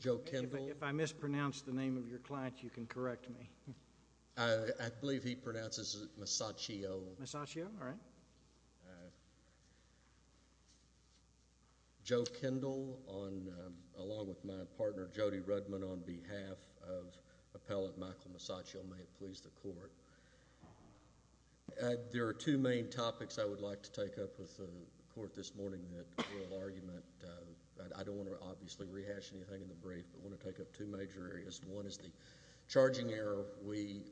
Joe Kendall If I mispronounce the name of your client you can correct me. I believe he pronounces it Musacchio. Musacchio, alright. Joe Kendall along with my partner Jody Rudman on behalf of appellate Michael Musacchio. May it please the court. There are two main topics I would like to take up with the court this morning. I don't want to obviously rehash anything in the brief but I want to take up two major areas. One is the charging error we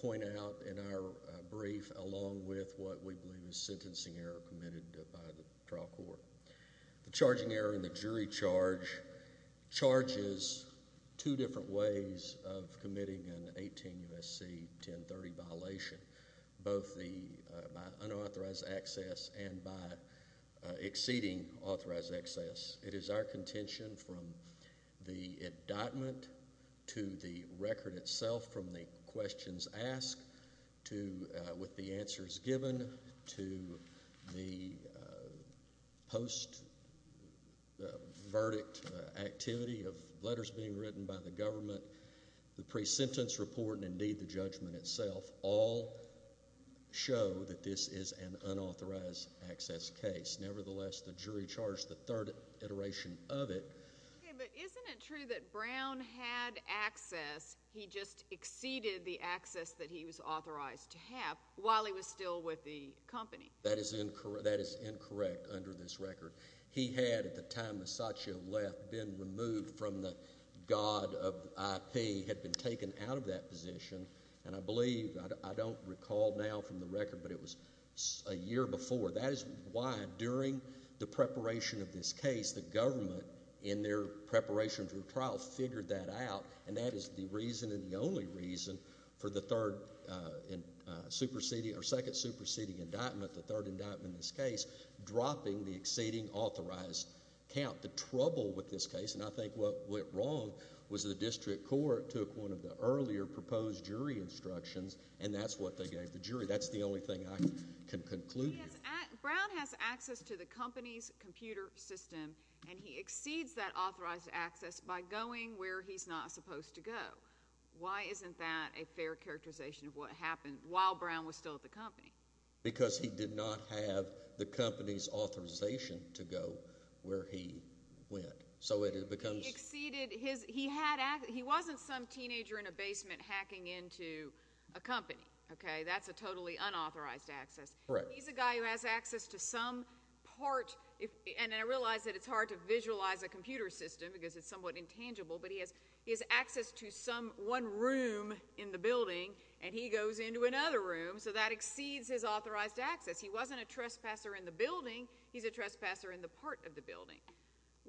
point out in our brief along with what we believe is sentencing error committed by the trial court. The charging error in the jury charge charges two different ways of committing an 18 U.S.C. 1030 violation. Both by unauthorized access and by exceeding authorized access. It is our contention from the indictment to the record itself from the questions asked to with the answers given to the post-verdict activity of letters being written by the government. The pre-sentence report and indeed the judgment itself all show that this is an unauthorized access case. Nevertheless, the jury charged the third iteration of it. Okay, but isn't it true that Brown had access. He just exceeded the access that he was authorized to have while he was still with the company. That is incorrect under this record. He had at the time Musacchio left been removed from the god of IP, had been taken out of that position. And I believe, I don't recall now from the record, but it was a year before. That is why during the preparation of this case the government in their preparation for trial figured that out. And that is the reason and the only reason for the third superseding or second superseding indictment, the third indictment in this case, dropping the exceeding authorized count. The trouble with this case and I think what went wrong was the district court took one of the earlier proposed jury instructions and that's what they gave the jury. That's the only thing I can conclude. Yes. Brown has access to the company's computer system and he exceeds that authorized access by going where he's not supposed to go. Why isn't that a fair characterization of what happened while Brown was still at the company? Because he did not have the company's authorization to go where he went. So it becomes – He exceeded his – he wasn't some teenager in a basement hacking into a company. Okay, that's a totally unauthorized access. Correct. He's a guy who has access to some part and I realize that it's hard to visualize a computer system because it's somewhat intangible, but he has access to some one room in the building and he goes into another room so that exceeds his authorized access. He wasn't a trespasser in the building. He's a trespasser in the part of the building.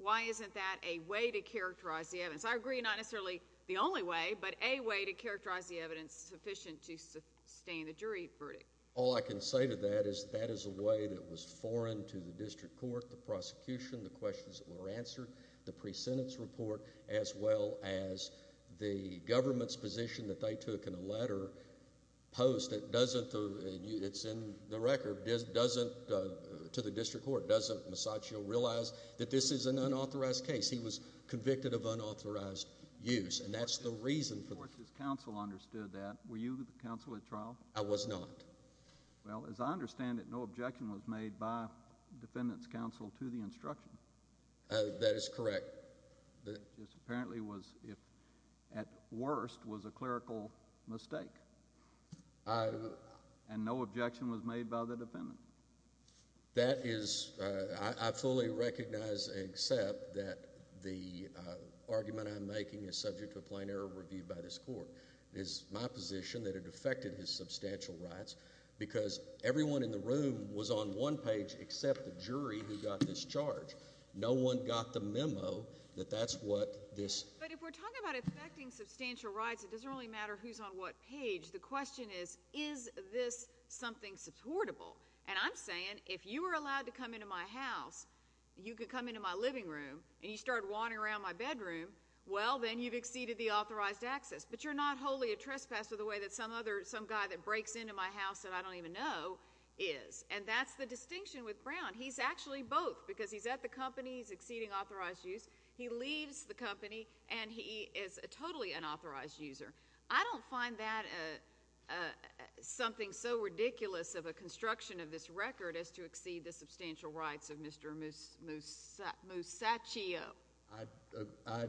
Why isn't that a way to characterize the evidence? I agree not necessarily the only way, but a way to characterize the evidence sufficient to sustain the jury verdict. All I can say to that is that is a way that was foreign to the district court, the prosecution, the questions that were answered, the pre-sentence report, as well as the government's position that they took in a letter post that doesn't – it's in the record – doesn't to the district court, doesn't Masaccio realize that this is an unauthorized case. He was convicted of unauthorized use and that's the reason for – Of course, his counsel understood that. Were you the counsel at trial? I was not. Well, as I understand it, no objection was made by defendant's counsel to the instruction. That is correct. It just apparently was at worst was a clerical mistake. And no objection was made by the defendant. That is – I fully recognize and accept that the argument I'm making is subject to a plain error reviewed by this court. It is my position that it affected his substantial rights because everyone in the room was on one page except the jury who got this charge. No one got the memo that that's what this – But if we're talking about affecting substantial rights, it doesn't really matter who's on what page. The question is, is this something supportable? And I'm saying if you were allowed to come into my house, you could come into my living room, and you started wandering around my bedroom, well, then you've exceeded the authorized access. But you're not wholly a trespasser the way that some other – some guy that breaks into my house that I don't even know is. And that's the distinction with Brown. He's actually both because he's at the company, he's exceeding authorized use, he leaves the company, and he is totally an authorized user. I don't find that something so ridiculous of a construction of this record as to exceed the substantial rights of Mr. Musacchio. I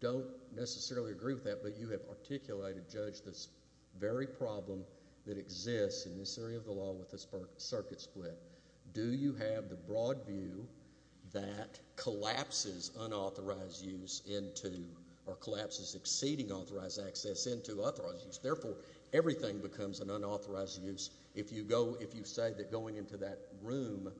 don't necessarily agree with that, but you have articulated, Judge, this very problem that exists in this area of the law with this circuit split. Do you have the broad view that collapses unauthorized use into – or collapses exceeding authorized access into authorized use? Therefore, everything becomes an unauthorized use if you go – if you say that going into that room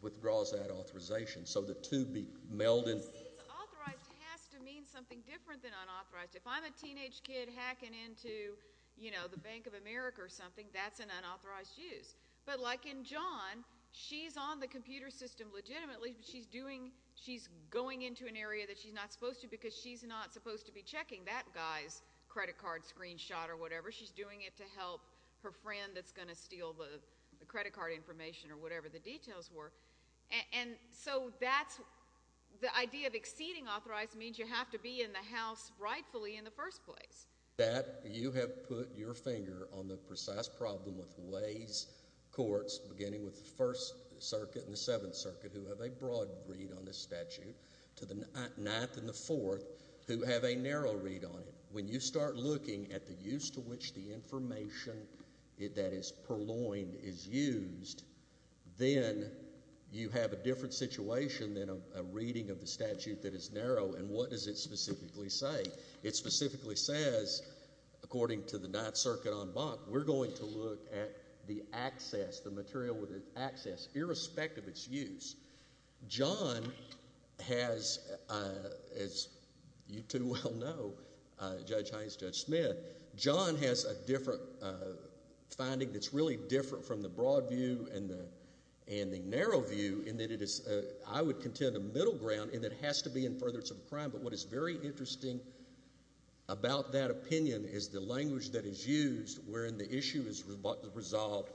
withdraws that authorization. So the two be melded. Authorized has to mean something different than unauthorized. If I'm a teenage kid hacking into, you know, the Bank of America or something, that's an unauthorized use. But like in John, she's on the computer system legitimately, but she's doing – she's going into an area that she's not supposed to because she's not supposed to be checking that guy's credit card screenshot or whatever. She's doing it to help her friend that's going to steal the credit card information or whatever the details were. And so that's – the idea of exceeding authorized means you have to be in the House rightfully in the first place. That you have put your finger on the precise problem with ways courts, beginning with the First Circuit and the Seventh Circuit, who have a broad read on this statute, to the Ninth and the Fourth, who have a narrow read on it. When you start looking at the use to which the information that is purloined is used, then you have a different situation than a reading of the statute that is narrow. And what does it specifically say? It specifically says, according to the Ninth Circuit en banc, we're going to look at the access, the material with its access, irrespective of its use. John has, as you two well know, Judge Haynes, Judge Smith, John has a different finding that's really different from the broad view and the narrow view in that it is, I would contend, a middle ground in that it has to be in furtherance of a crime. But what is very interesting about that opinion is the language that is used wherein the issue is resolved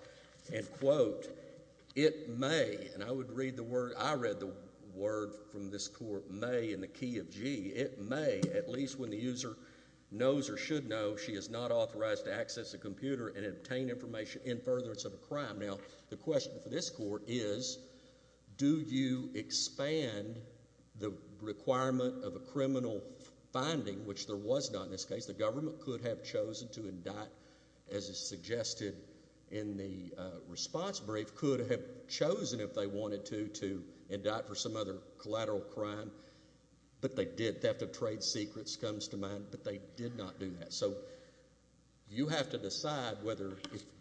and, quote, it may, and I would read the word, I read the word from this court, may in the key of G, it may, at least when the user knows or should know she is not authorized to access a computer and obtain information in furtherance of a crime. Now, the question for this court is, do you expand the requirement of a criminal finding, which there was not in this case. The government could have chosen to indict, as is suggested in the response brief, could have chosen, if they wanted to, to indict for some other collateral crime, but they did. Theft of trade secrets comes to mind, but they did not do that. So you have to decide whether,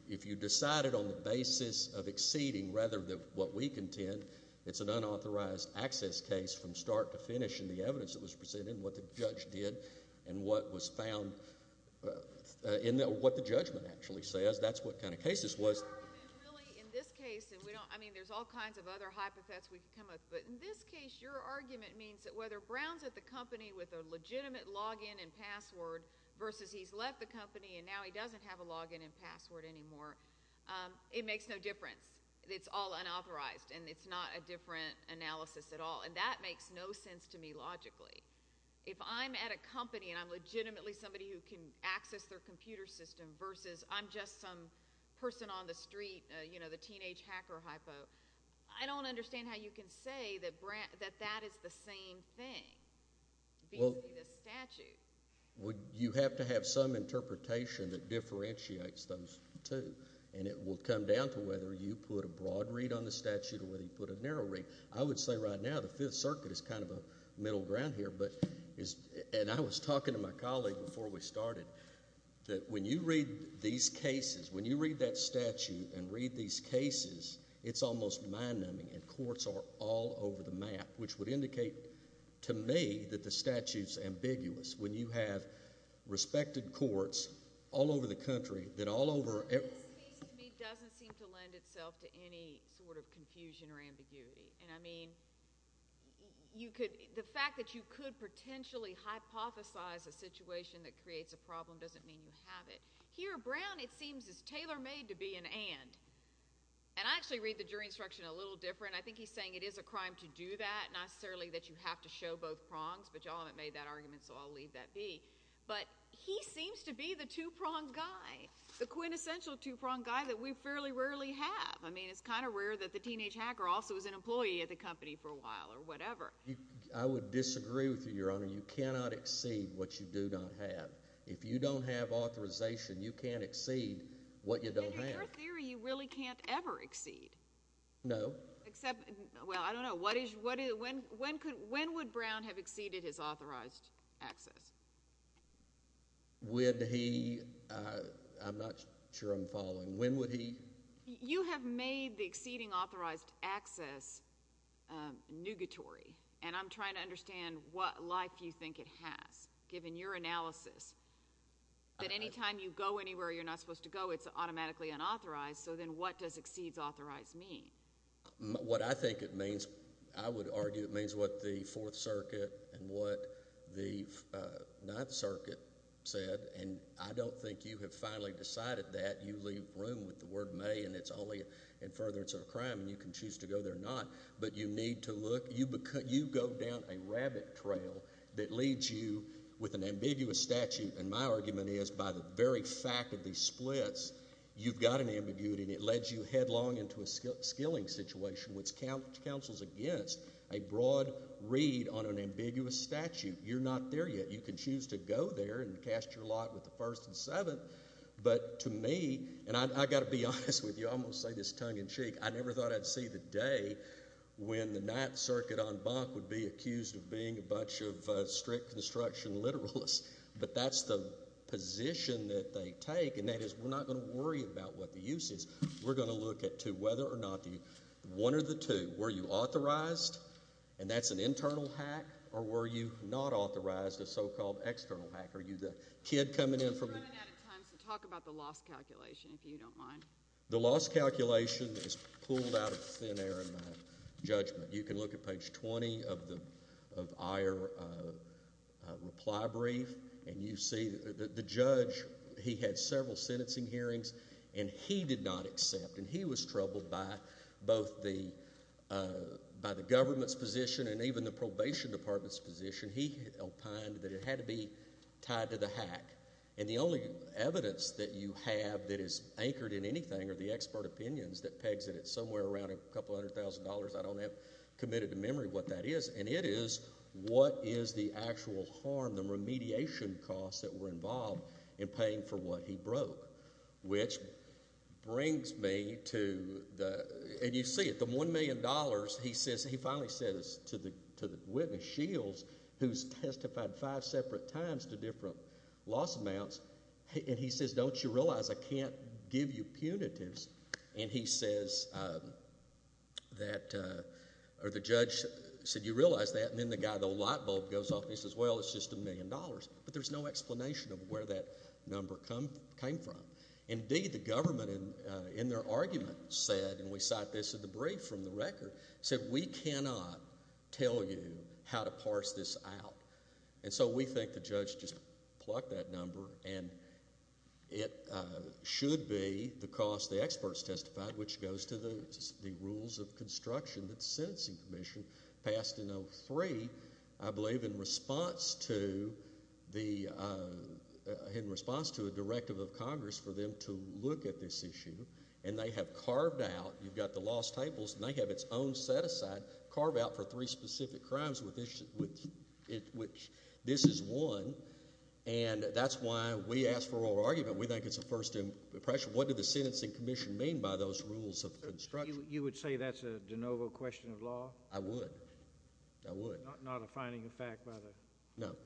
if you decided on the basis of exceeding rather than what we contend, it's an unauthorized access case from start to finish in the evidence that was presented and what the judge did and what was found in what the judgment actually says. That's what kind of case this was. In this case, and we don't, I mean, there's all kinds of other hypotheses we could come up with, but in this case your argument means that whether Brown's at the company with a legitimate login and password versus he's left the company and now he doesn't have a login and password anymore, it makes no difference. It's all unauthorized, and it's not a different analysis at all, and that makes no sense to me logically. If I'm at a company and I'm legitimately somebody who can access their computer system versus I'm just some person on the street, you know, the teenage hacker hypo, I don't understand how you can say that that is the same thing, the statute. You have to have some interpretation that differentiates those two, and it will come down to whether you put a broad read on the statute or whether you put a narrow read. I would say right now the Fifth Circuit is kind of a middle ground here, and I was talking to my colleague before we started that when you read these cases, when you read that statute and read these cases, it's almost mind-numbing, and courts are all over the map, which would indicate to me that the statute's ambiguous. When you have respected courts all over the country that all over... This case to me doesn't seem to lend itself to any sort of confusion or ambiguity, and, I mean, the fact that you could potentially hypothesize a situation that creates a problem doesn't mean you have it. Here, Brown, it seems, is tailor-made to be an and. And I actually read the jury instruction a little different. I think he's saying it is a crime to do that, not necessarily that you have to show both prongs, but you all haven't made that argument, so I'll leave that be. But he seems to be the two-pronged guy, the quintessential two-pronged guy that we fairly rarely have. I mean, it's kind of rare that the teenage hacker also is an employee at the company for a while or whatever. I would disagree with you, Your Honor. You cannot exceed what you do not have. If you don't have authorization, you can't exceed what you don't have. In your theory, you really can't ever exceed. No. Well, I don't know. When would Brown have exceeded his authorized access? Would he? I'm not sure I'm following. When would he? You have made the exceeding authorized access nugatory, and I'm trying to understand what life you think it has, given your analysis, that any time you go anywhere you're not supposed to go, it's automatically unauthorized. So then what does exceeds authorized mean? What I think it means, I would argue it means what the Fourth Circuit and what the Ninth Circuit said, and I don't think you have finally decided that. You leave room with the word may, and it's only in furtherance of a crime, and you can choose to go there or not. But you need to look. You go down a rabbit trail that leads you with an ambiguous statute, and my argument is by the very fact of these splits, you've got an ambiguity, and it leads you headlong into a skilling situation, which counsels against a broad read on an ambiguous statute. You're not there yet. You can choose to go there and cast your lot with the First and Seventh. But to me, and I've got to be honest with you, I'm going to say this tongue-in-cheek, I never thought I'd see the day when the Ninth Circuit on Bach would be accused of being a bunch of strict construction literalists. But that's the position that they take, and that is we're not going to worry about what the use is. We're going to look at whether or not the one or the two, were you authorized, and that's an internal hack, or were you not authorized, a so-called external hack? Are you the kid coming in from the— We're running out of time, so talk about the loss calculation, if you don't mind. The loss calculation is pulled out of thin air in my judgment. You can look at page 20 of our reply brief, and you see the judge, he had several sentencing hearings, and he did not accept, and he was troubled by both the—by the government's position and even the probation department's position. He opined that it had to be tied to the hack. And the only evidence that you have that is anchored in anything are the expert opinions that pegs at it somewhere around a couple hundred thousand dollars. I don't have committed to memory what that is, and it is what is the actual harm, the remediation costs that were involved in paying for what he broke, which brings me to the— and you see it, the $1 million, he says—he finally says to the witness, Shields, who's testified five separate times to different loss amounts, and he says, don't you realize I can't give you punitives? And he says that—or the judge said, you realize that? And then the guy with the light bulb goes off and he says, well, it's just $1 million. But there's no explanation of where that number came from. Indeed, the government in their argument said, and we cite this in the brief from the record, said we cannot tell you how to parse this out. And so we think the judge just plucked that number, and it should be the cost the experts testified, which goes to the rules of construction that the Sentencing Commission passed in 2003, I believe, in response to the—in response to a directive of Congress for them to look at this issue. And they have carved out—you've got the lost tables, and they have its own set aside, carved out for three specific crimes, which this is one. And that's why we ask for oral argument. We think it's a first impression. What did the Sentencing Commission mean by those rules of construction? You would say that's a de novo question of law? I would. I would. Not a finding of fact by the— No.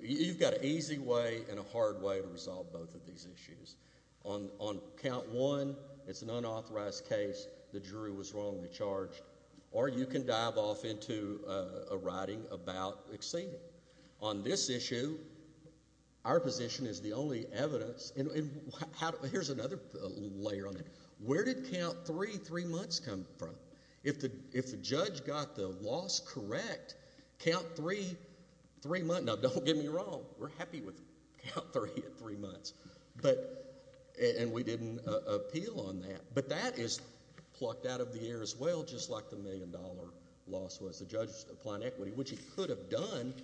You've got an easy way and a hard way to resolve both of these issues. On count one, it's an unauthorized case. The jury was wrongly charged. Or you can dive off into a writing about exceeding. On this issue, our position is the only evidence—and here's another layer on it. Where did count three, three months, come from? If the judge got the loss correct, count three, three months—now, don't get me wrong. We're happy with count three at three months. But—and we didn't appeal on that. But that is plucked out of the air as well, just like the million-dollar loss was. The judge was applying equity, which he could have done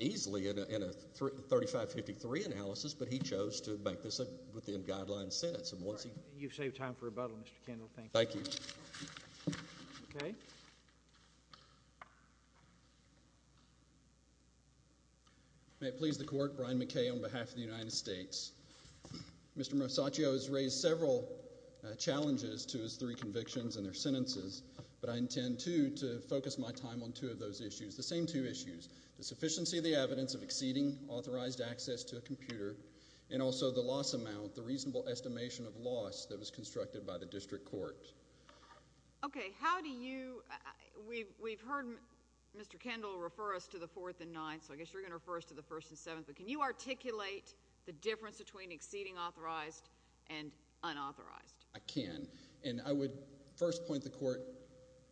easily in a 3553 analysis, but he chose to make this a within-guideline sentence. You've saved time for rebuttal, Mr. Kendall. Thank you. Thank you. Okay. Thank you. May it please the Court, Brian McKay on behalf of the United States. Mr. Mosacchio has raised several challenges to his three convictions and their sentences, but I intend, too, to focus my time on two of those issues, the same two issues, the sufficiency of the evidence of exceeding authorized access to a computer and also the loss amount, the reasonable estimation of loss that was constructed by the district court. Okay. How do you—we've heard Mr. Kendall refer us to the fourth and ninth, so I guess you're going to refer us to the first and seventh. But can you articulate the difference between exceeding authorized and unauthorized? I can. And I would first point the Court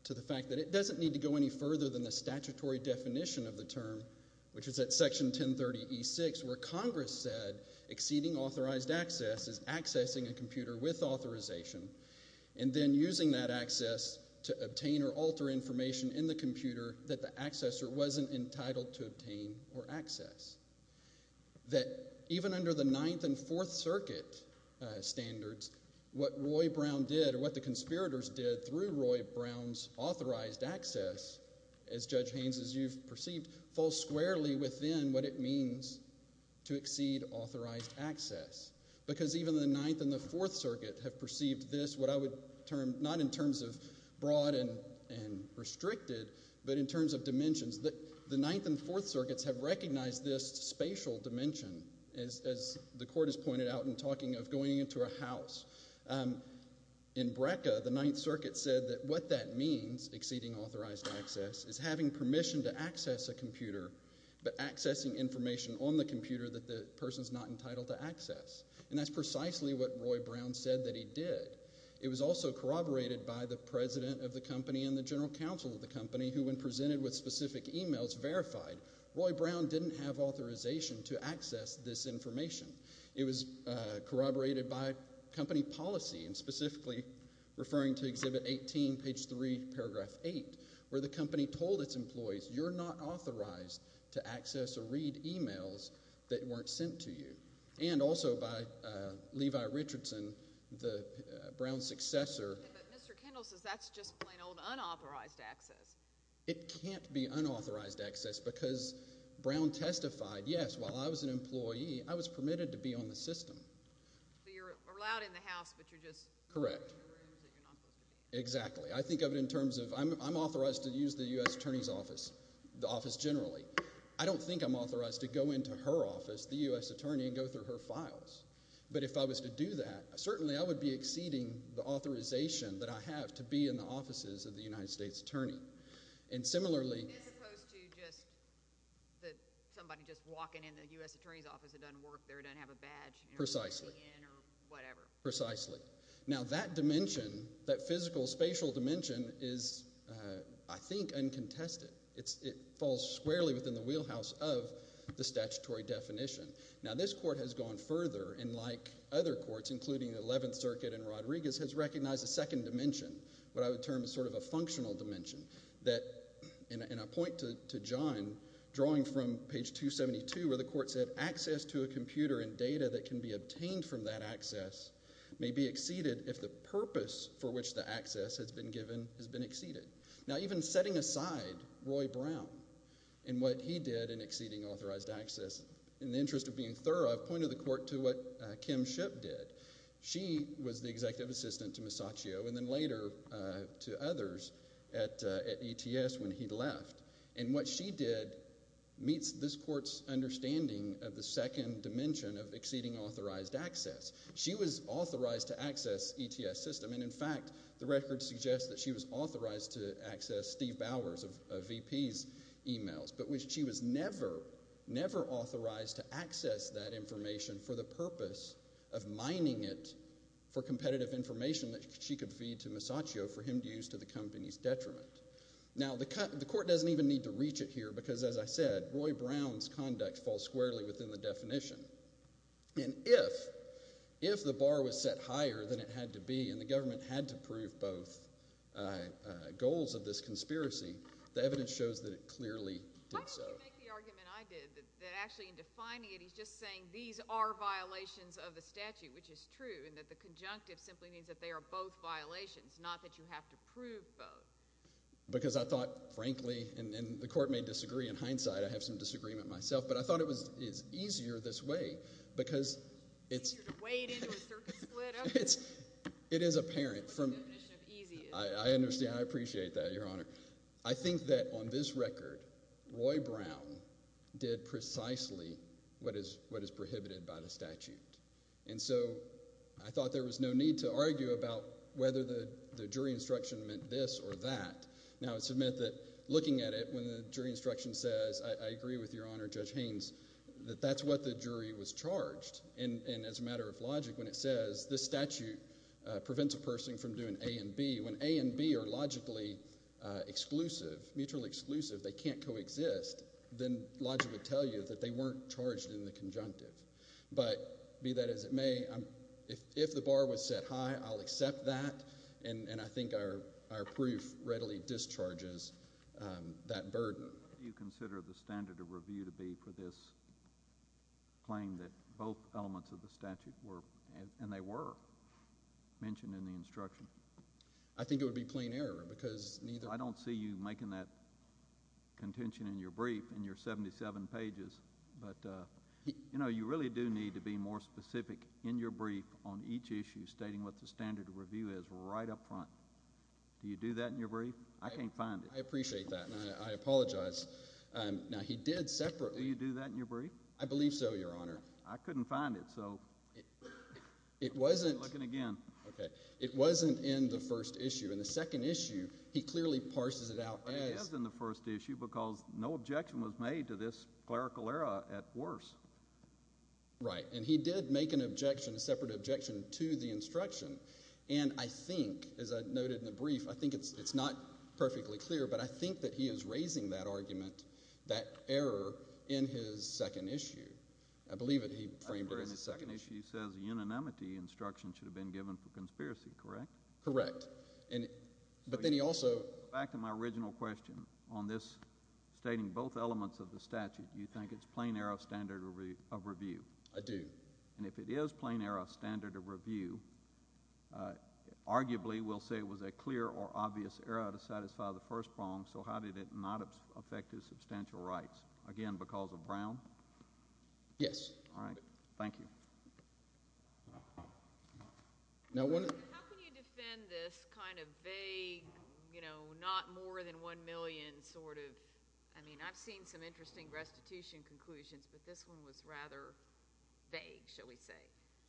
to the fact that it doesn't need to go any further than the statutory definition of the term, which is at Section 1030e6, where Congress said exceeding authorized access is accessing a computer with authorization. And then using that access to obtain or alter information in the computer that the accessor wasn't entitled to obtain or access. That even under the Ninth and Fourth Circuit standards, what Roy Brown did or what the conspirators did through Roy Brown's authorized access, as Judge Haynes, as you've perceived, falls squarely within what it means to exceed authorized access. Because even the Ninth and the Fourth Circuit have perceived this, what I would term—not in terms of broad and restricted, but in terms of dimensions. The Ninth and Fourth Circuits have recognized this spatial dimension, as the Court has pointed out in talking of going into a house. In BRCA, the Ninth Circuit said that what that means, exceeding authorized access, is having permission to access a computer, but accessing information on the computer that the person's not entitled to access. And that's precisely what Roy Brown said that he did. It was also corroborated by the president of the company and the general counsel of the company, who, when presented with specific emails, verified Roy Brown didn't have authorization to access this information. It was corroborated by company policy, and specifically referring to Exhibit 18, page 3, paragraph 8, where the company told its employees, you're not authorized to access or read emails that weren't sent to you. And also by Levi Richardson, Brown's successor— But Mr. Kendall says that's just plain old unauthorized access. It can't be unauthorized access, because Brown testified, yes, while I was an employee, I was permitted to be on the system. So you're allowed in the house, but you're just— Correct. Exactly. I think of it in terms of I'm authorized to use the U.S. Attorney's Office, the office generally. I don't think I'm authorized to go into her office, the U.S. Attorney, and go through her files. But if I was to do that, certainly I would be exceeding the authorization that I have to be in the offices of the United States Attorney. And similarly— As opposed to just somebody just walking in the U.S. Attorney's Office that doesn't work there, doesn't have a badge— Precisely. —or whatever. Precisely. Now, that dimension, that physical, spatial dimension is, I think, uncontested. It falls squarely within the wheelhouse of the statutory definition. Now, this court has gone further, and like other courts, including the Eleventh Circuit and Rodriguez, has recognized a second dimension, what I would term as sort of a functional dimension. And I point to John, drawing from page 272, where the court said, Access to a computer and data that can be obtained from that access may be exceeded if the purpose for which the access has been given has been exceeded. Now, even setting aside Roy Brown and what he did in exceeding authorized access, in the interest of being thorough, I've pointed the court to what Kim Shipp did. She was the executive assistant to Masaccio and then later to others at ETS when he left. And what she did meets this court's understanding of the second dimension of exceeding authorized access. She was authorized to access ETS system. And, in fact, the record suggests that she was authorized to access Steve Bowers of VP's emails, but she was never, never authorized to access that information for the purpose of mining it for competitive information that she could feed to Masaccio for him to use to the company's detriment. Now, the court doesn't even need to reach it here because, as I said, Roy Brown's conduct falls squarely within the definition. And if the bar was set higher than it had to be and the government had to prove both goals of this conspiracy, the evidence shows that it clearly did so. Why don't you make the argument I did that actually in defining it he's just saying these are violations of the statute, which is true, and that the conjunctive simply means that they are both violations, not that you have to prove both? Because I thought, frankly, and the court may disagree in hindsight. I have some disagreement myself. But I thought it was easier this way because it's – Easier to wade into a circuit split? It is apparent from – The definition of easy is – I understand. I appreciate that, Your Honor. I think that on this record Roy Brown did precisely what is prohibited by the statute. And so I thought there was no need to argue about whether the jury instruction meant this or that. Now, I submit that looking at it, when the jury instruction says, I agree with Your Honor, Judge Haynes, that that's what the jury was charged. And as a matter of logic, when it says this statute prevents a person from doing A and B, when A and B are logically exclusive, mutually exclusive, they can't coexist, then logic would tell you that they weren't charged in the conjunctive. But be that as it may, if the bar was set high, I'll accept that, and I think our proof readily discharges that burden. What do you consider the standard of review to be for this claim that both elements of the statute were, and they were, mentioned in the instruction? I think it would be plain error because neither – I don't see you making that contention in your brief in your 77 pages. But, you know, you really do need to be more specific in your brief on each issue stating what the standard of review is right up front. Do you do that in your brief? I can't find it. I appreciate that, and I apologize. Now, he did separately – Do you do that in your brief? I believe so, Your Honor. I couldn't find it, so I'm looking again. Okay. It wasn't in the first issue. In the second issue, he clearly parses it out as – It is in the first issue because no objection was made to this clerical error at worse. Right. And he did make an objection, a separate objection, to the instruction. And I think, as I noted in the brief, I think it's not perfectly clear, but I think that he is raising that argument, that error, in his second issue. I believe that he framed it as a second issue. I remember in his second issue he says a unanimity instruction should have been given for conspiracy, correct? Correct. But then he also – Back to my original question on this stating both elements of the statute. Do you think it's plain error of standard of review? I do. And if it is plain error of standard of review, arguably we'll say it was a clear or obvious error to satisfy the first prong. So how did it not affect his substantial rights? Again, because of Brown? Yes. All right. Thank you. How can you defend this kind of vague, you know, not more than 1 million sort of –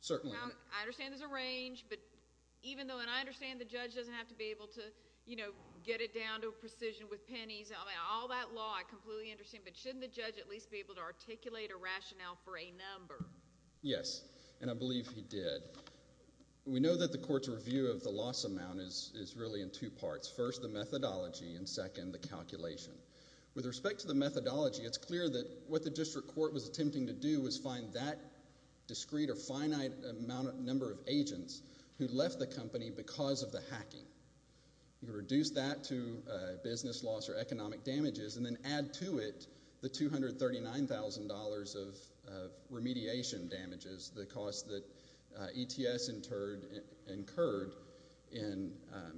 Certainly. I understand there's a range, but even though – and I understand the judge doesn't have to be able to, you know, get it down to a precision with pennies. I mean, all that law I completely understand, but shouldn't the judge at least be able to articulate a rationale for a number? Yes, and I believe he did. We know that the court's review of the loss amount is really in two parts. First, the methodology, and second, the calculation. With respect to the methodology, it's clear that what the district court was attempting to do was find that discrete or finite number of agents who left the company because of the hacking. You reduce that to business loss or economic damages and then add to it the $239,000 of remediation damages, the cost that ETS incurred in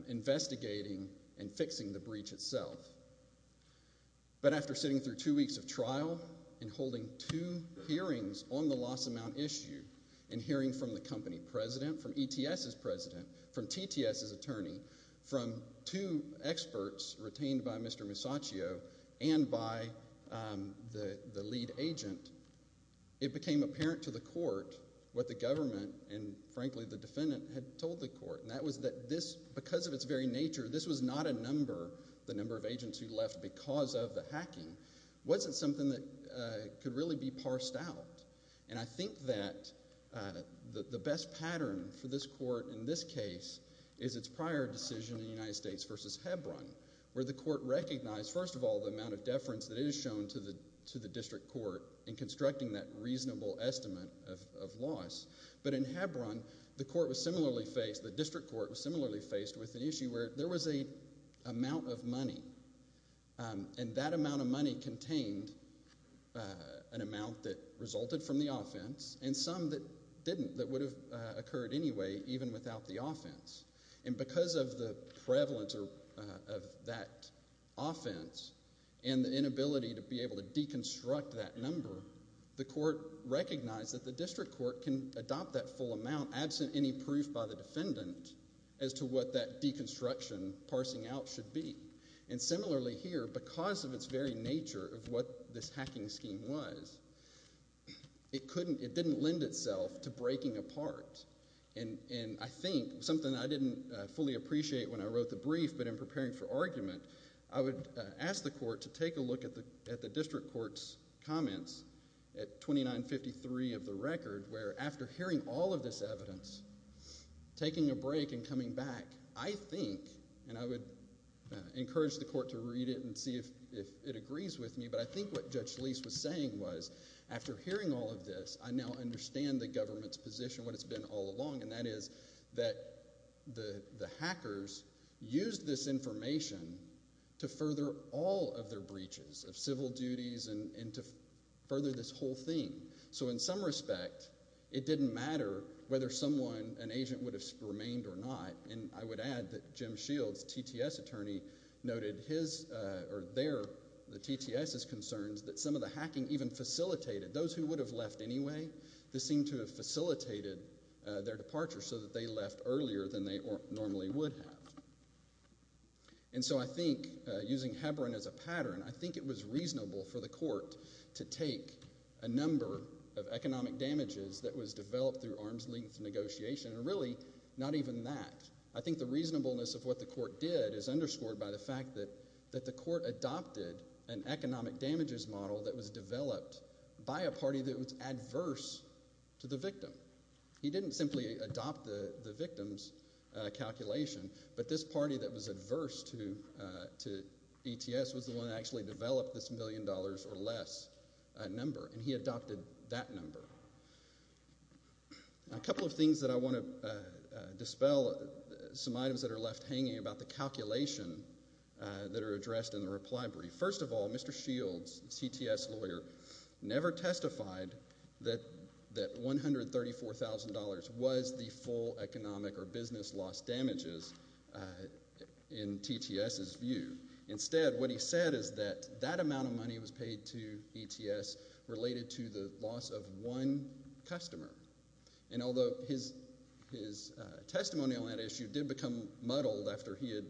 investigating and fixing the breach itself. But after sitting through two weeks of trial and holding two hearings on the loss amount issue and hearing from the company president, from ETS's president, from TTS's attorney, from two experts retained by Mr. Musacchio and by the lead agent, it became apparent to the court what the government and, frankly, the defendant had told the court. And that was that this, because of its very nature, this was not a number, the number of agents who left because of the hacking, wasn't something that could really be parsed out. And I think that the best pattern for this court in this case is its prior decision in the United States versus Hebron where the court recognized, first of all, the amount of deference that is shown to the district court in constructing that reasonable estimate of loss. But in Hebron, the court was similarly faced, the district court was similarly faced with an issue where there was an amount of money. And that amount of money contained an amount that resulted from the offense and some that didn't, that would have occurred anyway even without the offense. And because of the prevalence of that offense and the inability to be able to deconstruct that number, the court recognized that the district court can adopt that full amount absent any proof by the defendant as to what that deconstruction parsing out should be. And similarly here, because of its very nature of what this hacking scheme was, it didn't lend itself to breaking apart. And I think, something I didn't fully appreciate when I wrote the brief, but in preparing for argument, I would ask the court to take a look at the district court's comments at 2953 of the record where after hearing all of this evidence, taking a break and coming back, I think, and I would encourage the court to read it and see if it agrees with me, but I think what Judge Lease was saying was after hearing all of this, I now understand the government's position, what it's been all along, and that is that the hackers used this information to further all of their breaches of civil duties and to further this whole thing. So in some respect, it didn't matter whether someone, an agent, would have remained or not. And I would add that Jim Shields, TTS attorney, noted his or their, the TTS's concerns that some of the hacking even facilitated. Those who would have left anyway, this seemed to have facilitated their departure so that they left earlier than they normally would have. And so I think, using Hebron as a pattern, I think it was reasonable for the court to take a number of economic damages that was developed through arm's length negotiation, and really, not even that. I think the reasonableness of what the court did is underscored by the fact that the court adopted an economic damages model that was developed by a party that was adverse to the victim. He didn't simply adopt the victim's calculation, but this party that was adverse to ETS was the one that actually developed this million dollars or less number, and he adopted that number. A couple of things that I want to dispel, some items that are left hanging about the calculation that are addressed in the reply brief. First of all, Mr. Shields, TTS lawyer, never testified that $134,000 was the full economic or business loss damages in TTS's view. Instead, what he said is that that amount of money was paid to ETS related to the loss of one customer. And although his testimonial on that issue did become muddled after he had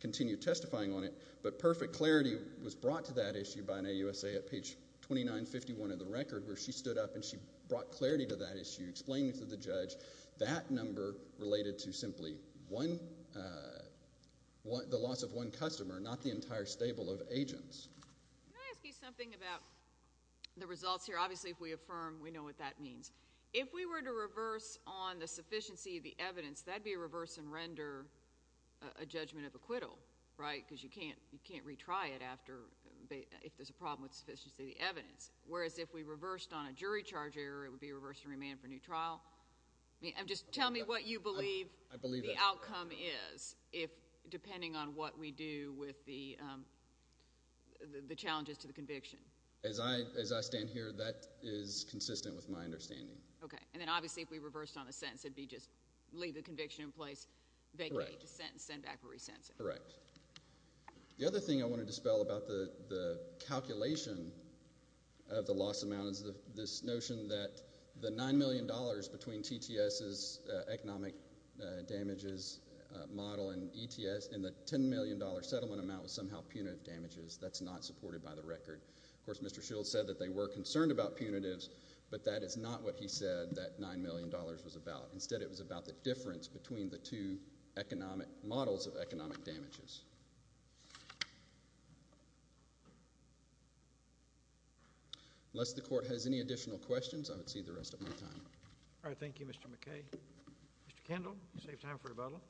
continued testifying on it, but perfect clarity was brought to that issue by an AUSA at page 2951 of the record, where she stood up and she brought clarity to that issue, explaining to the judge that number related to simply the loss of one customer, not the entire stable of agents. Can I ask you something about the results here? Obviously, if we affirm, we know what that means. If we were to reverse on the sufficiency of the evidence, that would be a reverse and render a judgment of acquittal, right, because you can't retry it if there's a problem with the sufficiency of the evidence. Whereas if we reversed on a jury charge error, it would be a reverse and remand for a new trial. Just tell me what you believe the outcome is, depending on what we do with the challenges to the conviction. As I stand here, that is consistent with my understanding. Okay. And then obviously if we reversed on a sentence, it would be just leave the conviction in place, vacate the sentence, send back a re-sentence. Correct. The other thing I want to dispel about the calculation of the loss amount is this notion that the $9 million between TTS's economic damages model and ETS and the $10 million settlement amount was somehow punitive damages. That's not supported by the record. Of course, Mr. Shields said that they were concerned about punitives, but that is not what he said that $9 million was about. Instead, it was about the difference between the two economic models of economic damages. Unless the court has any additional questions, I would cede the rest of my time. All right. Thank you, Mr. McKay. Mr. Kendall, you saved time for rebuttal.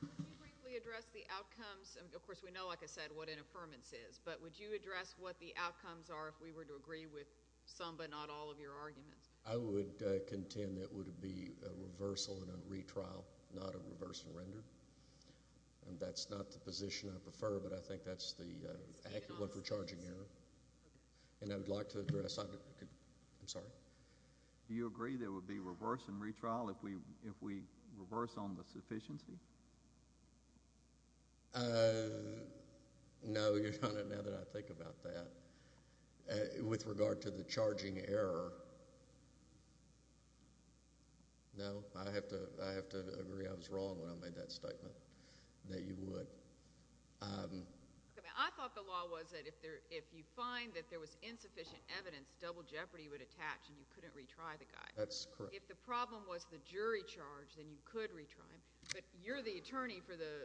Could you briefly address the outcomes? Of course, we know, like I said, what an affirmance is, but would you address what the outcomes are if we were to agree with some but not all of your arguments? I would contend it would be a reversal and a retrial, not a reverse and render. And that's not the position I prefer, but I think that's the accurate one for charging error. And I would like to address – I'm sorry? Do you agree there would be reverse and retrial if we reverse on the sufficiency? No, Your Honor, now that I think about that. With regard to the charging error, no. I have to agree I was wrong when I made that statement, that you would. I thought the law was that if you find that there was insufficient evidence, double jeopardy would attach, and you couldn't retry the guy. That's correct. If the problem was the jury charge, then you could retry him. But you're the attorney for the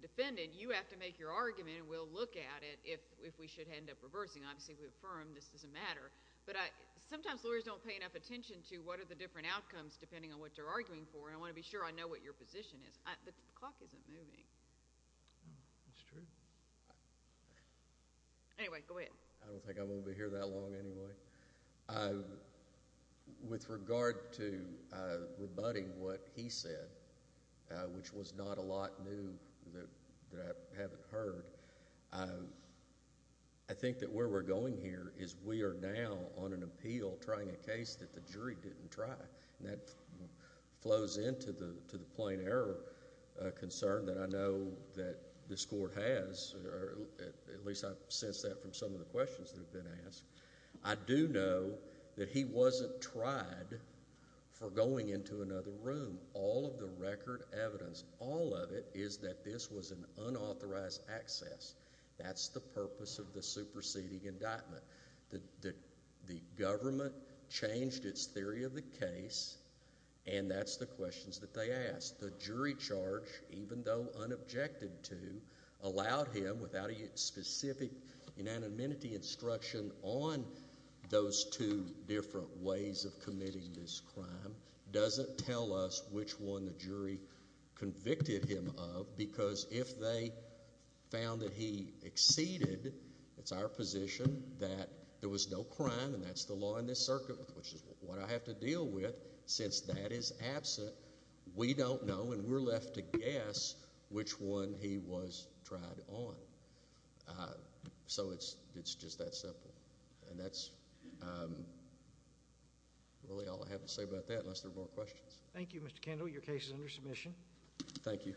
defendant. You have to make your argument, and we'll look at it if we should end up reversing. Obviously, if we affirm, this doesn't matter. But sometimes lawyers don't pay enough attention to what are the different outcomes, depending on what they're arguing for. And I want to be sure I know what your position is. The clock isn't moving. It's true. Anyway, go ahead. I don't think I'm going to be here that long anyway. With regard to rebutting what he said, which was not a lot new that I haven't heard, I think that where we're going here is we are now on an appeal trying a case that the jury didn't try. And that flows into the plain error concern that I know that this court has, or at least I've sensed that from some of the questions that have been asked. I do know that he wasn't tried for going into another room. All of the record evidence, all of it, is that this was an unauthorized access. That's the purpose of the superseding indictment. The government changed its theory of the case, and that's the questions that they asked. The jury charge, even though unobjected to, allowed him without a specific unanimity instruction on those two different ways of committing this crime, doesn't tell us which one the jury convicted him of because if they found that he exceeded, it's our position that there was no crime, and that's the law in this circuit, which is what I have to deal with since that is absent. We don't know, and we're left to guess which one he was tried on. So it's just that simple. And that's really all I have to say about that unless there are more questions. Thank you, Mr. Kendall. Your case is under submission. Thank you.